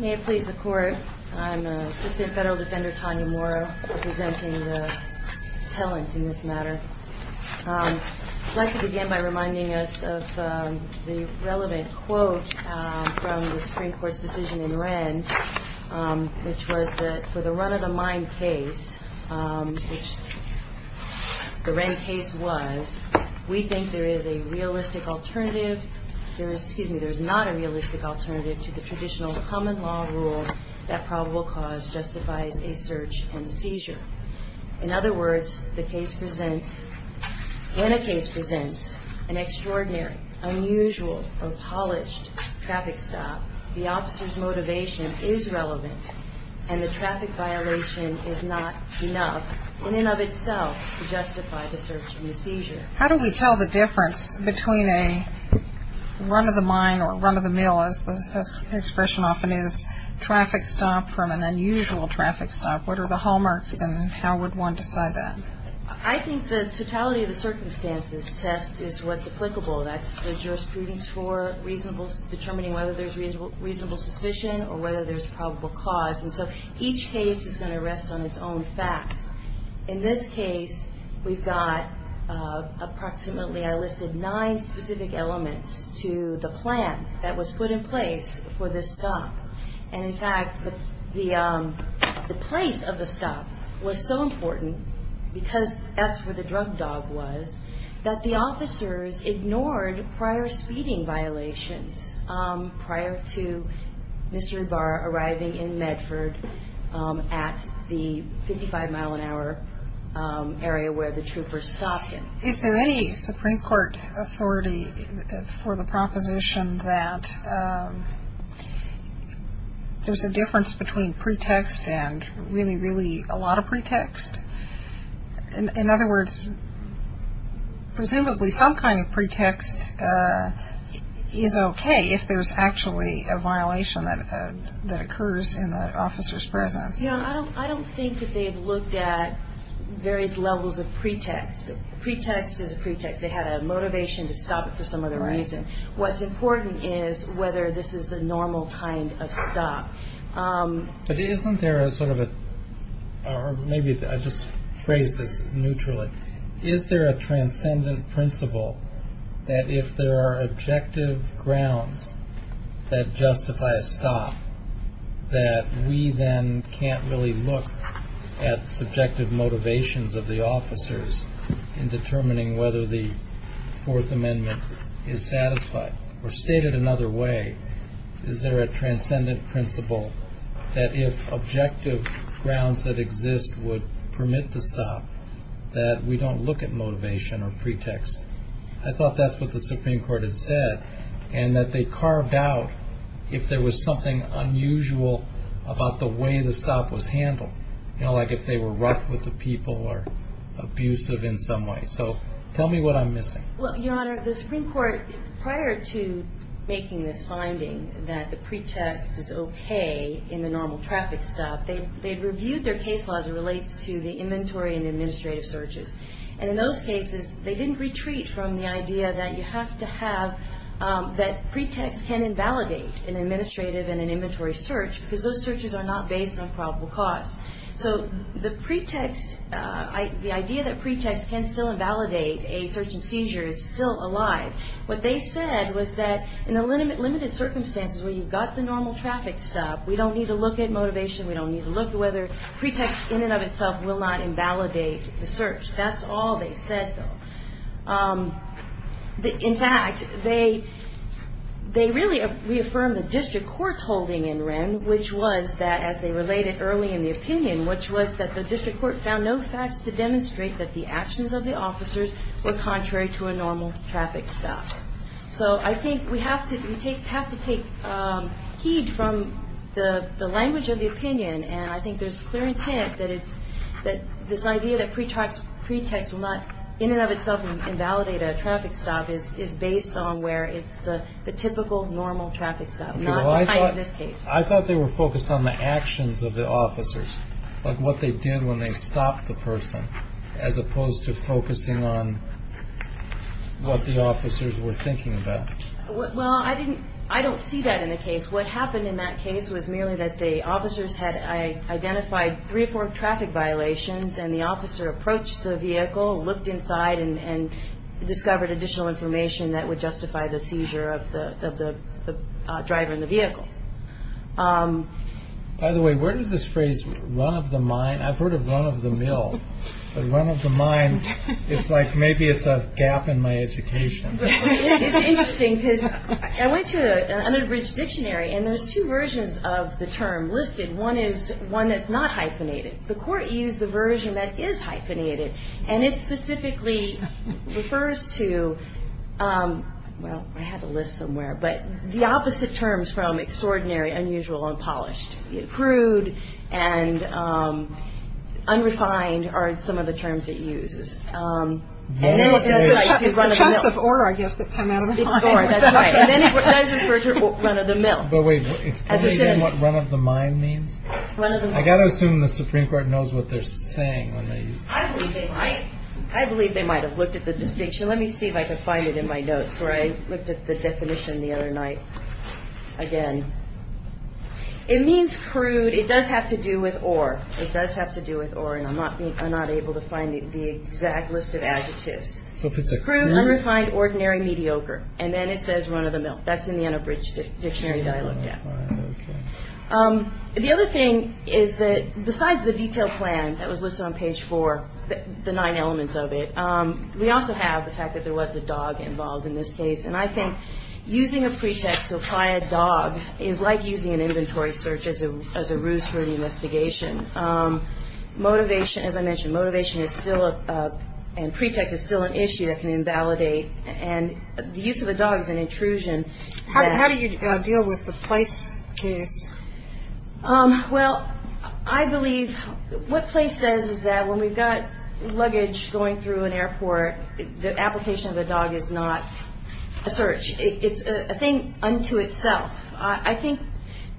May it please the Court, I'm Assistant Federal Defender Tanya Mora, representing the talent in this matter. I'd like to begin by reminding us of the relevant quote from the Supreme Court's decision in Wren, which was that for the run-of-the-mine case, which the Wren case was, we think there is a realistic alternative, excuse me, there's not a realistic alternative to the traditional common law rule that probable cause justifies a search and seizure. In other words, the case presents, in a case presents, an extraordinary, unusual, or polished traffic stop, the officer's motivation is relevant, and the traffic violation is not enough, in and of itself, to justify the search and the seizure. How do we tell the difference between a run-of-the-mine or run-of-the-mill, as the expression often is, traffic stop from an unusual traffic stop? What are the hallmarks, and how would one decide that? I think the totality of the circumstances test is what's applicable. That's the jurisprudence for determining whether there's reasonable suspicion or whether there's probable cause. And so, each case is going to rest on its own facts. In this case, we've got approximately, I listed nine specific elements to the plan that was put in place for this stop. And in fact, the place of the stop was so important, because that's where the drug dog was, that the officers ignored prior speeding violations, prior to Mr. Ibarra arriving in Medford at the 55-mile-an-hour area where the troopers stopped him. Is there any Supreme Court authority for the proposition that there's a difference between pretext and really, really a lot of pretext? In other words, presumably some kind of pretext is okay if there's actually a violation that occurs in the officer's presence. I don't think that they've looked at various levels of pretext. Pretext is a pretext. They had a motivation to stop it for some other reason. What's important is whether this is the normal kind of stop. But isn't there a sort of a, or maybe I'll just phrase this neutrally, is there a transcendent principle that if there are objective grounds that justify a stop, that we then can't really look at subjective motivations of the officers in determining whether the Fourth Amendment is satisfied? Or stated another way, is there a transcendent principle that if objective grounds that exist would permit the stop, that we don't look at motivation or pretext? I thought that's what the Supreme Court had said, and that they carved out if there was something unusual about the way the stop was handled. You know, like if they were rough with the people or abusive in some way. So tell me what I'm missing. Well, Your Honor, the Supreme Court, prior to making this finding that the pretext is okay in the normal traffic stop, they reviewed their case law as it relates to the inventory and administrative searches. And in those cases, they didn't retreat from the idea that you have to have, that pretext can invalidate an administrative and an inventory search, because those searches are not based on probable cause. So the pretext, the idea that pretext can still invalidate a search and seizure is still alive. What they said was that in the limited circumstances where you've got the normal traffic stop, we don't need to look at motivation, we don't need to look at whether pretext in and of itself will not invalidate the search. That's all they said, though. In fact, they really reaffirmed the district court's holding in Wren, which was that, as they related early in the opinion, which was that the district court found no facts to demonstrate that the actions of the officers were contrary to a normal traffic stop. So I think we have to take heed from the language of the opinion, and I think there's clear intent that this idea that pretext will not in and of itself invalidate a traffic stop is based on where it's the typical normal traffic stop, not in this case. I thought they were focused on the actions of the officers, like what they did when they stopped the person, as opposed to focusing on what the officers were thinking about. Well, I don't see that in the case. What happened in that case was merely that the officers had identified three or four traffic violations, and the officer approached the vehicle, looked inside, and discovered additional information that would justify the seizure of the driver in the vehicle. By the way, where does this phrase, run of the mine? I've heard of run of the mill, but run of the mine, it's like maybe it's a gap in my education. It's interesting, because I went to the Underbridge Dictionary, and there's two versions of the term listed. One is one that's not hyphenated. The court used the version that is hyphenated, and it specifically refers to, well, I have a list somewhere, but the opposite terms from extraordinary, unusual, and polished. Crude and unrefined are some of the terms it uses. It's the chunks of ore, I guess, that come out of the mine. That's right, and then it refers to run of the mill. But wait, it's clearly what run of the mine means? I've got to assume the Supreme Court knows what they're saying. I believe they might. I believe they might have looked at the distinction. Let me see if I can find it in my notes where I looked at the definition the other night again. It means crude. It does have to do with ore. It does have to do with ore, and I'm not able to find the exact list of adjectives. So if it's a crude, unrefined, ordinary, mediocre, and then it says run of the mill. That's in the Underbridge Dictionary that I looked at. The other thing is that besides the detailed plan that was listed on page four, the nine elements of it, we also have the fact that there was a dog involved in this case, and I think using a pretext to apply a dog is like using an inventory search as a ruse for an investigation. Motivation, as I mentioned, motivation is still a – and pretext is still an issue that can invalidate, and the use of a dog is an intrusion. How do you deal with the place case? Well, I believe what place says is that when we've got luggage going through an airport, the application of the dog is not a search. It's a thing unto itself. I think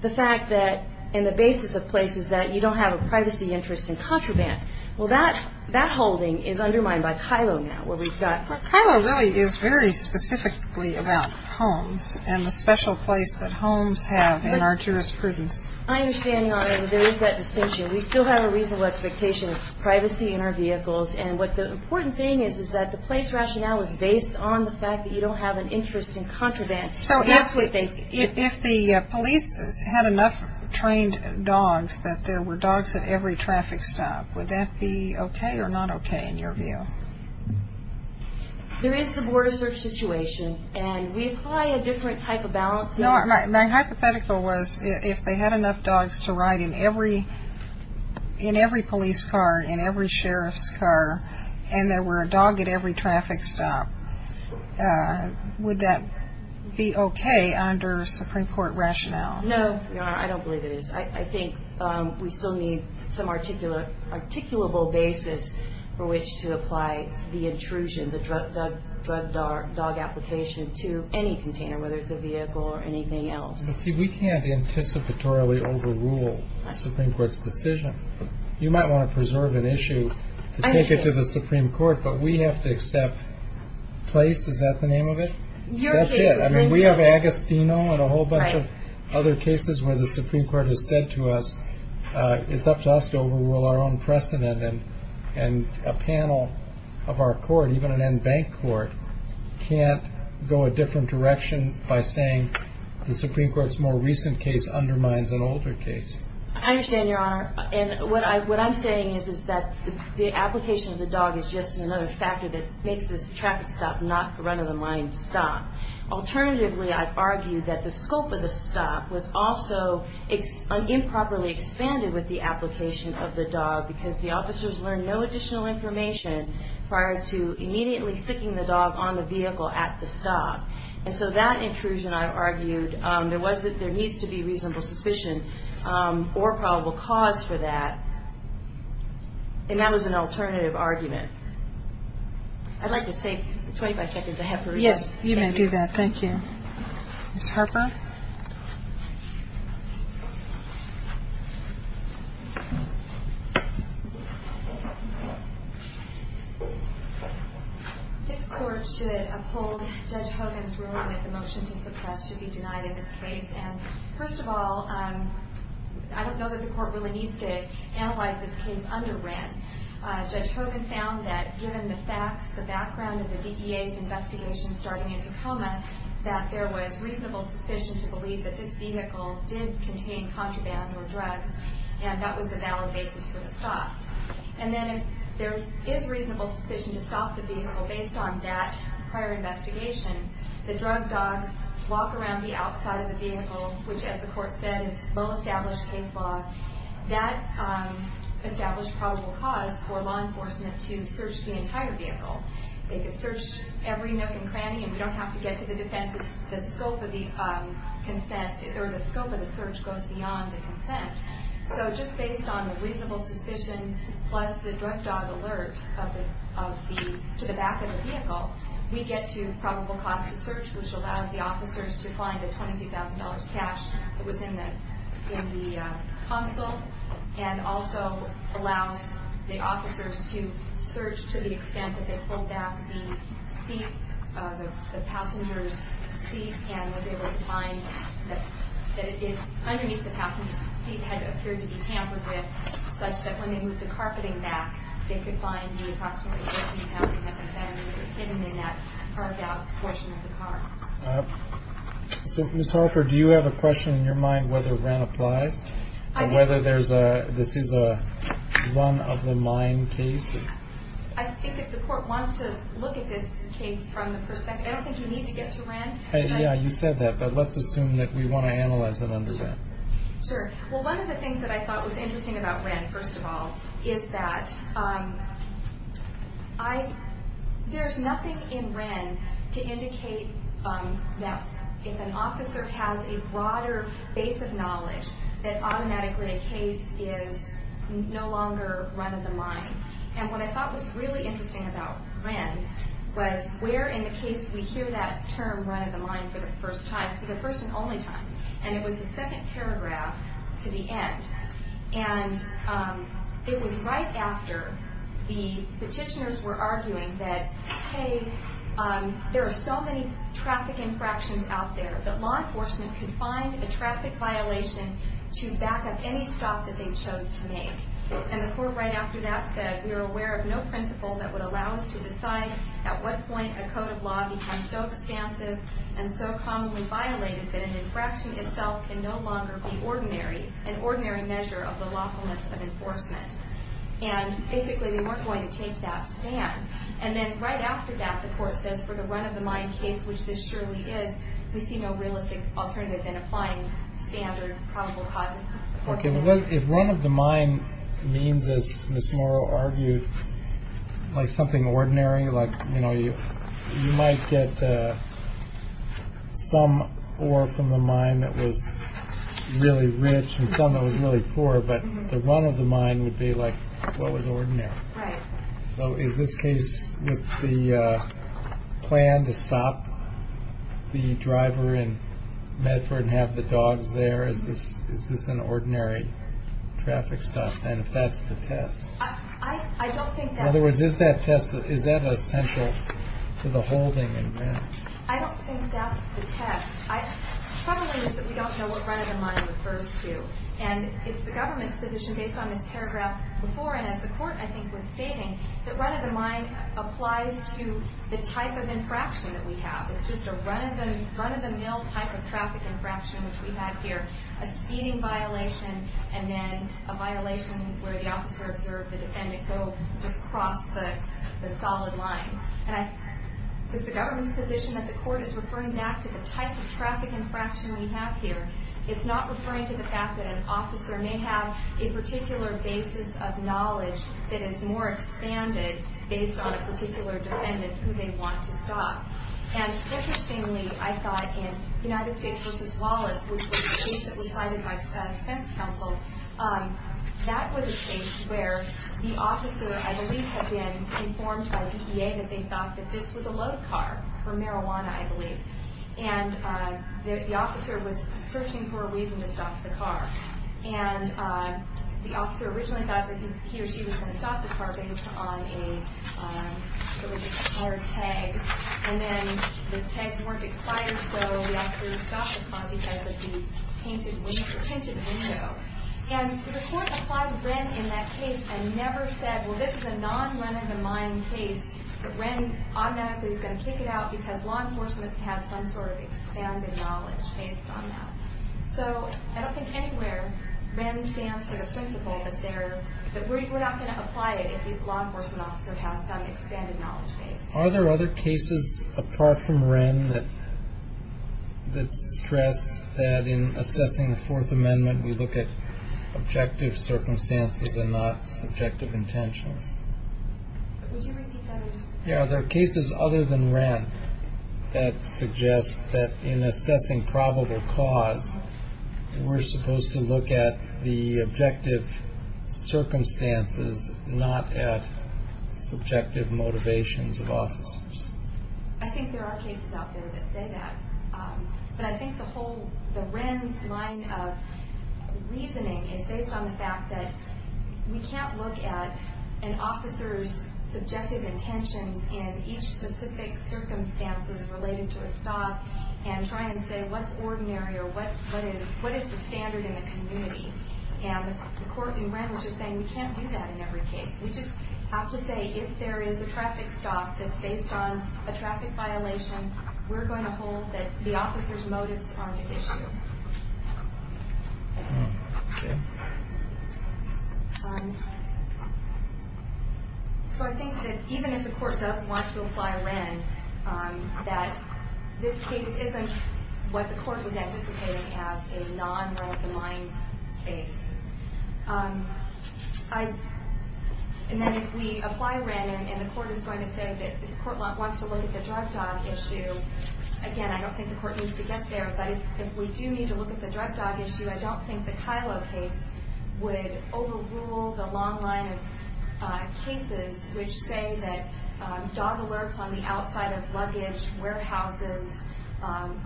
the fact that in the basis of place is that you don't have a privacy interest in contraband. Well, that holding is undermined by Kylo now where we've got – Kylo really is very specifically about homes and the special place that homes have in our jurisprudence. I understand, Your Honor, that there is that distinction. We still have a reasonable expectation of privacy in our vehicles, and what the important thing is is that the place rationale is based on the fact that you don't have an interest in contraband. So if the police had enough trained dogs that there were dogs at every traffic stop, would that be okay or not okay in your view? There is the border search situation, and we apply a different type of balance. No, my hypothetical was if they had enough dogs to ride in every police car, in every sheriff's car, and there were a dog at every traffic stop, would that be okay under Supreme Court rationale? No, Your Honor, I don't believe it is. I think we still need some articulable basis for which to apply the intrusion, the drug application to any container, whether it's a vehicle or anything else. See, we can't anticipatorily overrule the Supreme Court's decision. You might want to preserve an issue to take it to the Supreme Court, but we have to accept place. Is that the name of it? Your case is Supreme Court. No, and a whole bunch of other cases where the Supreme Court has said to us it's up to us to overrule our own precedent, and a panel of our court, even an in-bank court, can't go a different direction by saying the Supreme Court's more recent case undermines an older case. I understand, Your Honor. And what I'm saying is that the application of the dog is just another factor that makes this traffic stop not a run-of-the-mind stop. Alternatively, I've argued that the scope of the stop was also improperly expanded with the application of the dog because the officers learned no additional information prior to immediately sticking the dog on the vehicle at the stop. And so that intrusion, I've argued, there needs to be reasonable suspicion or probable cause for that, and that was an alternative argument. I'd like to take 25 seconds ahead for rebuttal. Yes, you may do that. Thank you. Ms. Harper? This court should uphold Judge Hogan's ruling that the motion to suppress should be denied in this case. And first of all, I don't know that the court really needs to analyze this case under Wren. Judge Hogan found that given the facts, the background of the DEA's investigation starting in Tacoma, that there was reasonable suspicion to believe that this vehicle did contain contraband or drugs, and that was the valid basis for the stop. And then if there is reasonable suspicion to stop the vehicle based on that prior investigation, the drug dogs walk around the outside of the vehicle, which, as the court said, is low-established case law. That established probable cause for law enforcement to search the entire vehicle. They could search every nook and cranny, and we don't have to get to the defenses. The scope of the search goes beyond the consent. So just based on the reasonable suspicion plus the drug dog alert to the back of the vehicle, we get to probable cause to search, which allows the officers to find the $22,000 cash that was in the console and also allows the officers to search to the extent that they pulled back the seat, the passenger's seat, and was able to find that underneath the passenger's seat had appeared to be tampered with, such that when they moved the carpeting back, they could find the approximately $14,000 that was hidden in that carved-out portion of the car. So, Ms. Harper, do you have a question in your mind whether Wren applies, whether this is a run-of-the-mine case? I think if the court wants to look at this case from the perspective, I don't think you need to get to Wren. Yeah, you said that, but let's assume that we want to analyze it under that. Sure. Well, one of the things that I thought was interesting about Wren, first of all, is that there's nothing in Wren to indicate that if an officer has a broader base of knowledge, that automatically a case is no longer run-of-the-mine. And what I thought was really interesting about Wren was where in the case we hear that term run-of-the-mine for the first time, for the first and only time, and it was the second paragraph to the end. And it was right after the petitioners were arguing that, hey, there are so many traffic infractions out there that law enforcement could find a traffic violation to back up any stop that they chose to make. And the court right after that said, we are aware of no principle that would allow us to decide at what point a code of law becomes so expansive and so commonly violated that an infraction itself can no longer be ordinary, an ordinary measure of the lawfulness of enforcement. And basically, we weren't going to take that stand. And then right after that, the court says for the run-of-the-mine case, which this surely is, we see no realistic alternative in applying standard probable causes. If run-of-the-mine means, as Ms. Morrow argued, like something ordinary, like, you know, you might get some ore from the mine that was really rich and some that was really poor, but the run-of-the-mine would be like what was ordinary. So is this case with the plan to stop the driver in Medford and have the dogs there? Is this an ordinary traffic stop, then, if that's the test? In other words, is that test essential to the holding in Medford? I don't think that's the test. The trouble is that we don't know what run-of-the-mine refers to. And it's the government's position, based on this paragraph before, and as the court, I think, was stating, that run-of-the-mine applies to the type of infraction that we have. It's just a run-of-the-mill type of traffic infraction, which we have here. A speeding violation and then a violation where the officer observed the defendant go just across the solid line. And it's the government's position that the court is referring back to the type of traffic infraction we have here. It's not referring to the fact that an officer may have a particular basis of knowledge that is more expanded based on a particular defendant who they want to stop. And interestingly, I thought in United States v. Wallace, which was a case that was cited by defense counsel, that was a case where the officer, I believe, had been informed by DEA that they thought that this was a load car for marijuana, I believe. And the officer was searching for a reason to stop the car. And the officer originally thought that he or she was going to stop the car based on a, it was a car tag. And then the tags weren't expired, so the officer stopped the car because of the tainted window. And the court applied REN in that case and never said, well, this is a non-run-of-the-mine case, but REN automatically is going to kick it out because law enforcement has some sort of expanded knowledge based on that. So I don't think anywhere REN stands for the principle that we're not going to apply it unless the law enforcement officer has some expanded knowledge base. Are there other cases apart from REN that stress that in assessing the Fourth Amendment, we look at objective circumstances and not subjective intentions? Would you repeat that? Yeah, are there cases other than REN that suggest that in assessing probable cause, we're supposed to look at the objective circumstances, not at subjective motivations of officers? I think there are cases out there that say that. But I think the whole, the REN's line of reasoning is based on the fact that we can't look at an officer's subjective intentions in each specific circumstances related to a stop and try and say what's ordinary or what is the standard in the community. And the court in REN was just saying we can't do that in every case. We just have to say if there is a traffic stop that's based on a traffic violation, we're going to hold that the officer's motives are the issue. Okay. So I think that even if the court does want to apply REN, that this case isn't what the court was anticipating as a non-right in line case. And then if we apply REN and the court is going to say that the court wants to look at the drug dog issue, again, I don't think the court needs to get there, but if we do need to look at the drug dog issue, I don't think the Kylo case would overrule the long line of cases which say that dog alerts on the outside of luggage, warehouses,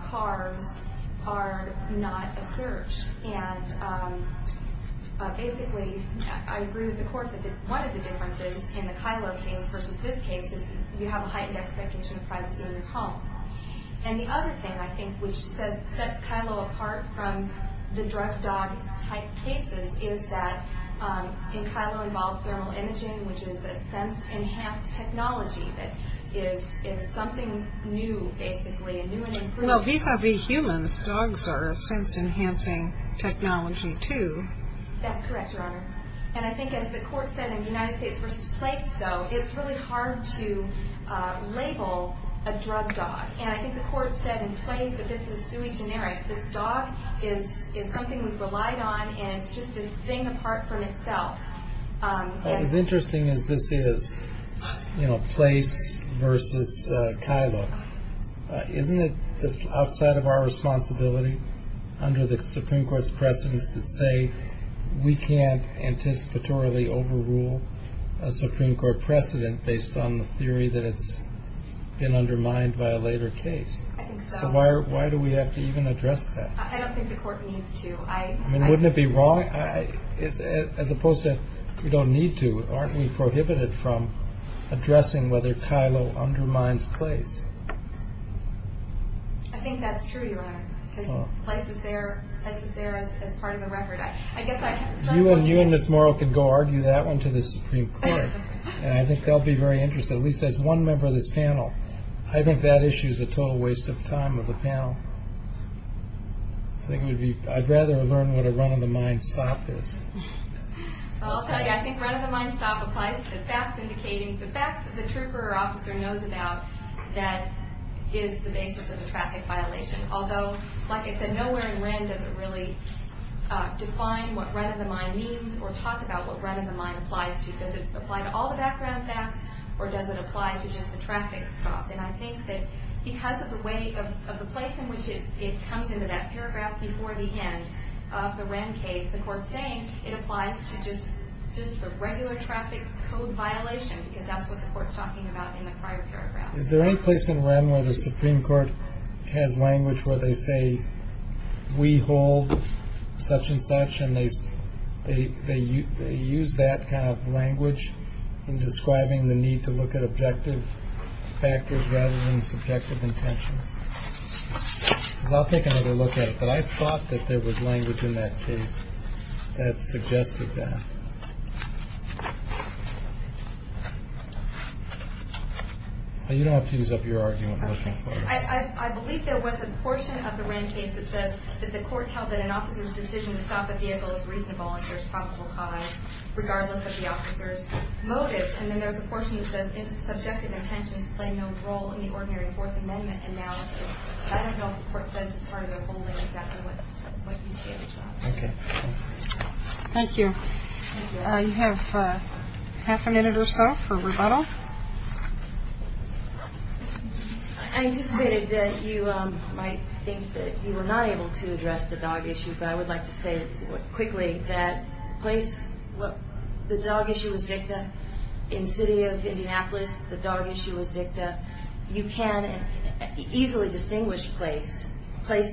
cars are not a search. And basically, I agree with the court that one of the differences in the Kylo case versus this case is you have a heightened expectation of privacy in your home. And the other thing I think which sets Kylo apart from the drug dog type cases is that in Kylo involved thermal imaging, which is a sense-enhanced technology that is something new, basically, a new and improved. Well, vis-a-vis humans, dogs are a sense-enhancing technology, too. That's correct, Your Honor. And I think as the court said in the United States versus Place, though, it's really hard to label a drug dog. And I think the court said in Place that this is sui generis. This dog is something we've relied on, and it's just this thing apart from itself. As interesting as this is, you know, Place versus Kylo, isn't it just outside of our responsibility under the Supreme Court's precedence that say we can't anticipatorily overrule a Supreme Court precedent based on the theory that it's been undermined by a later case? I think so. So why do we have to even address that? I don't think the court needs to. I mean, wouldn't it be wrong? As opposed to we don't need to, aren't we prohibited from addressing whether Kylo undermines Place? I think that's true, Your Honor, because Place is there as part of the record. You and Ms. Morrow can go argue that one to the Supreme Court, and I think they'll be very interested, at least as one member of this panel. I think that issue is a total waste of time of the panel. I'd rather learn what a run-of-the-mind stop is. I'll tell you, I think run-of-the-mind stop applies to the facts indicating, the facts that the trooper or officer knows about that is the basis of a traffic violation. Although, like I said, nowhere in Wren does it really define what run-of-the-mind means or talk about what run-of-the-mind applies to. Does it apply to all the background facts, or does it apply to just the traffic stop? And I think that because of the place in which it comes into that paragraph before the end of the Wren case, the court's saying it applies to just the regular traffic code violation because that's what the court's talking about in the prior paragraph. Is there any place in Wren where the Supreme Court has language where they say, we hold such and such, and they use that kind of language in describing the need to look at objective factors rather than subjective intentions? Because I'll take another look at it, but I thought that there was language in that case that suggested that. You don't have to use up your argument. I believe there was a portion of the Wren case that says that the court held that an officer's decision to stop a vehicle is reasonable if there's probable cause, regardless of the officer's motives. And then there's a portion that says subjective intentions play no role in the ordinary Fourth Amendment analysis. I don't know if the court says it's part of their whole language after what you stated. Okay. Thank you. You have half a minute or so for rebuttal. I anticipated that you might think that you were not able to address the dog issue, but I would like to say quickly that the dog issue was dicta. In the city of Indianapolis, the dog issue was dicta. You can easily distinguish place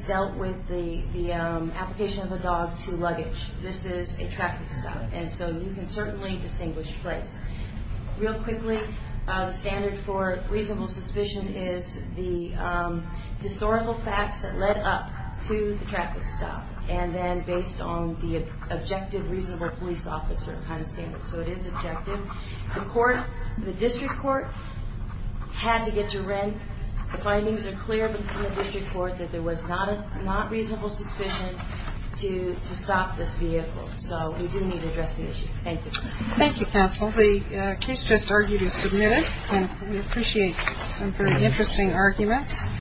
dealt with the application of the dog to luggage. This is a traffic stop, and so you can certainly distinguish place. Real quickly, the standard for reasonable suspicion is the historical facts that led up to the traffic stop, and then based on the objective reasonable police officer kind of standard. So it is objective. The district court had to get to rent. The findings are clear from the district court that there was not reasonable suspicion to stop this vehicle. So we do need to address the issue. Thank you. Thank you, counsel. The case just argued is submitted. We appreciate some very interesting arguments.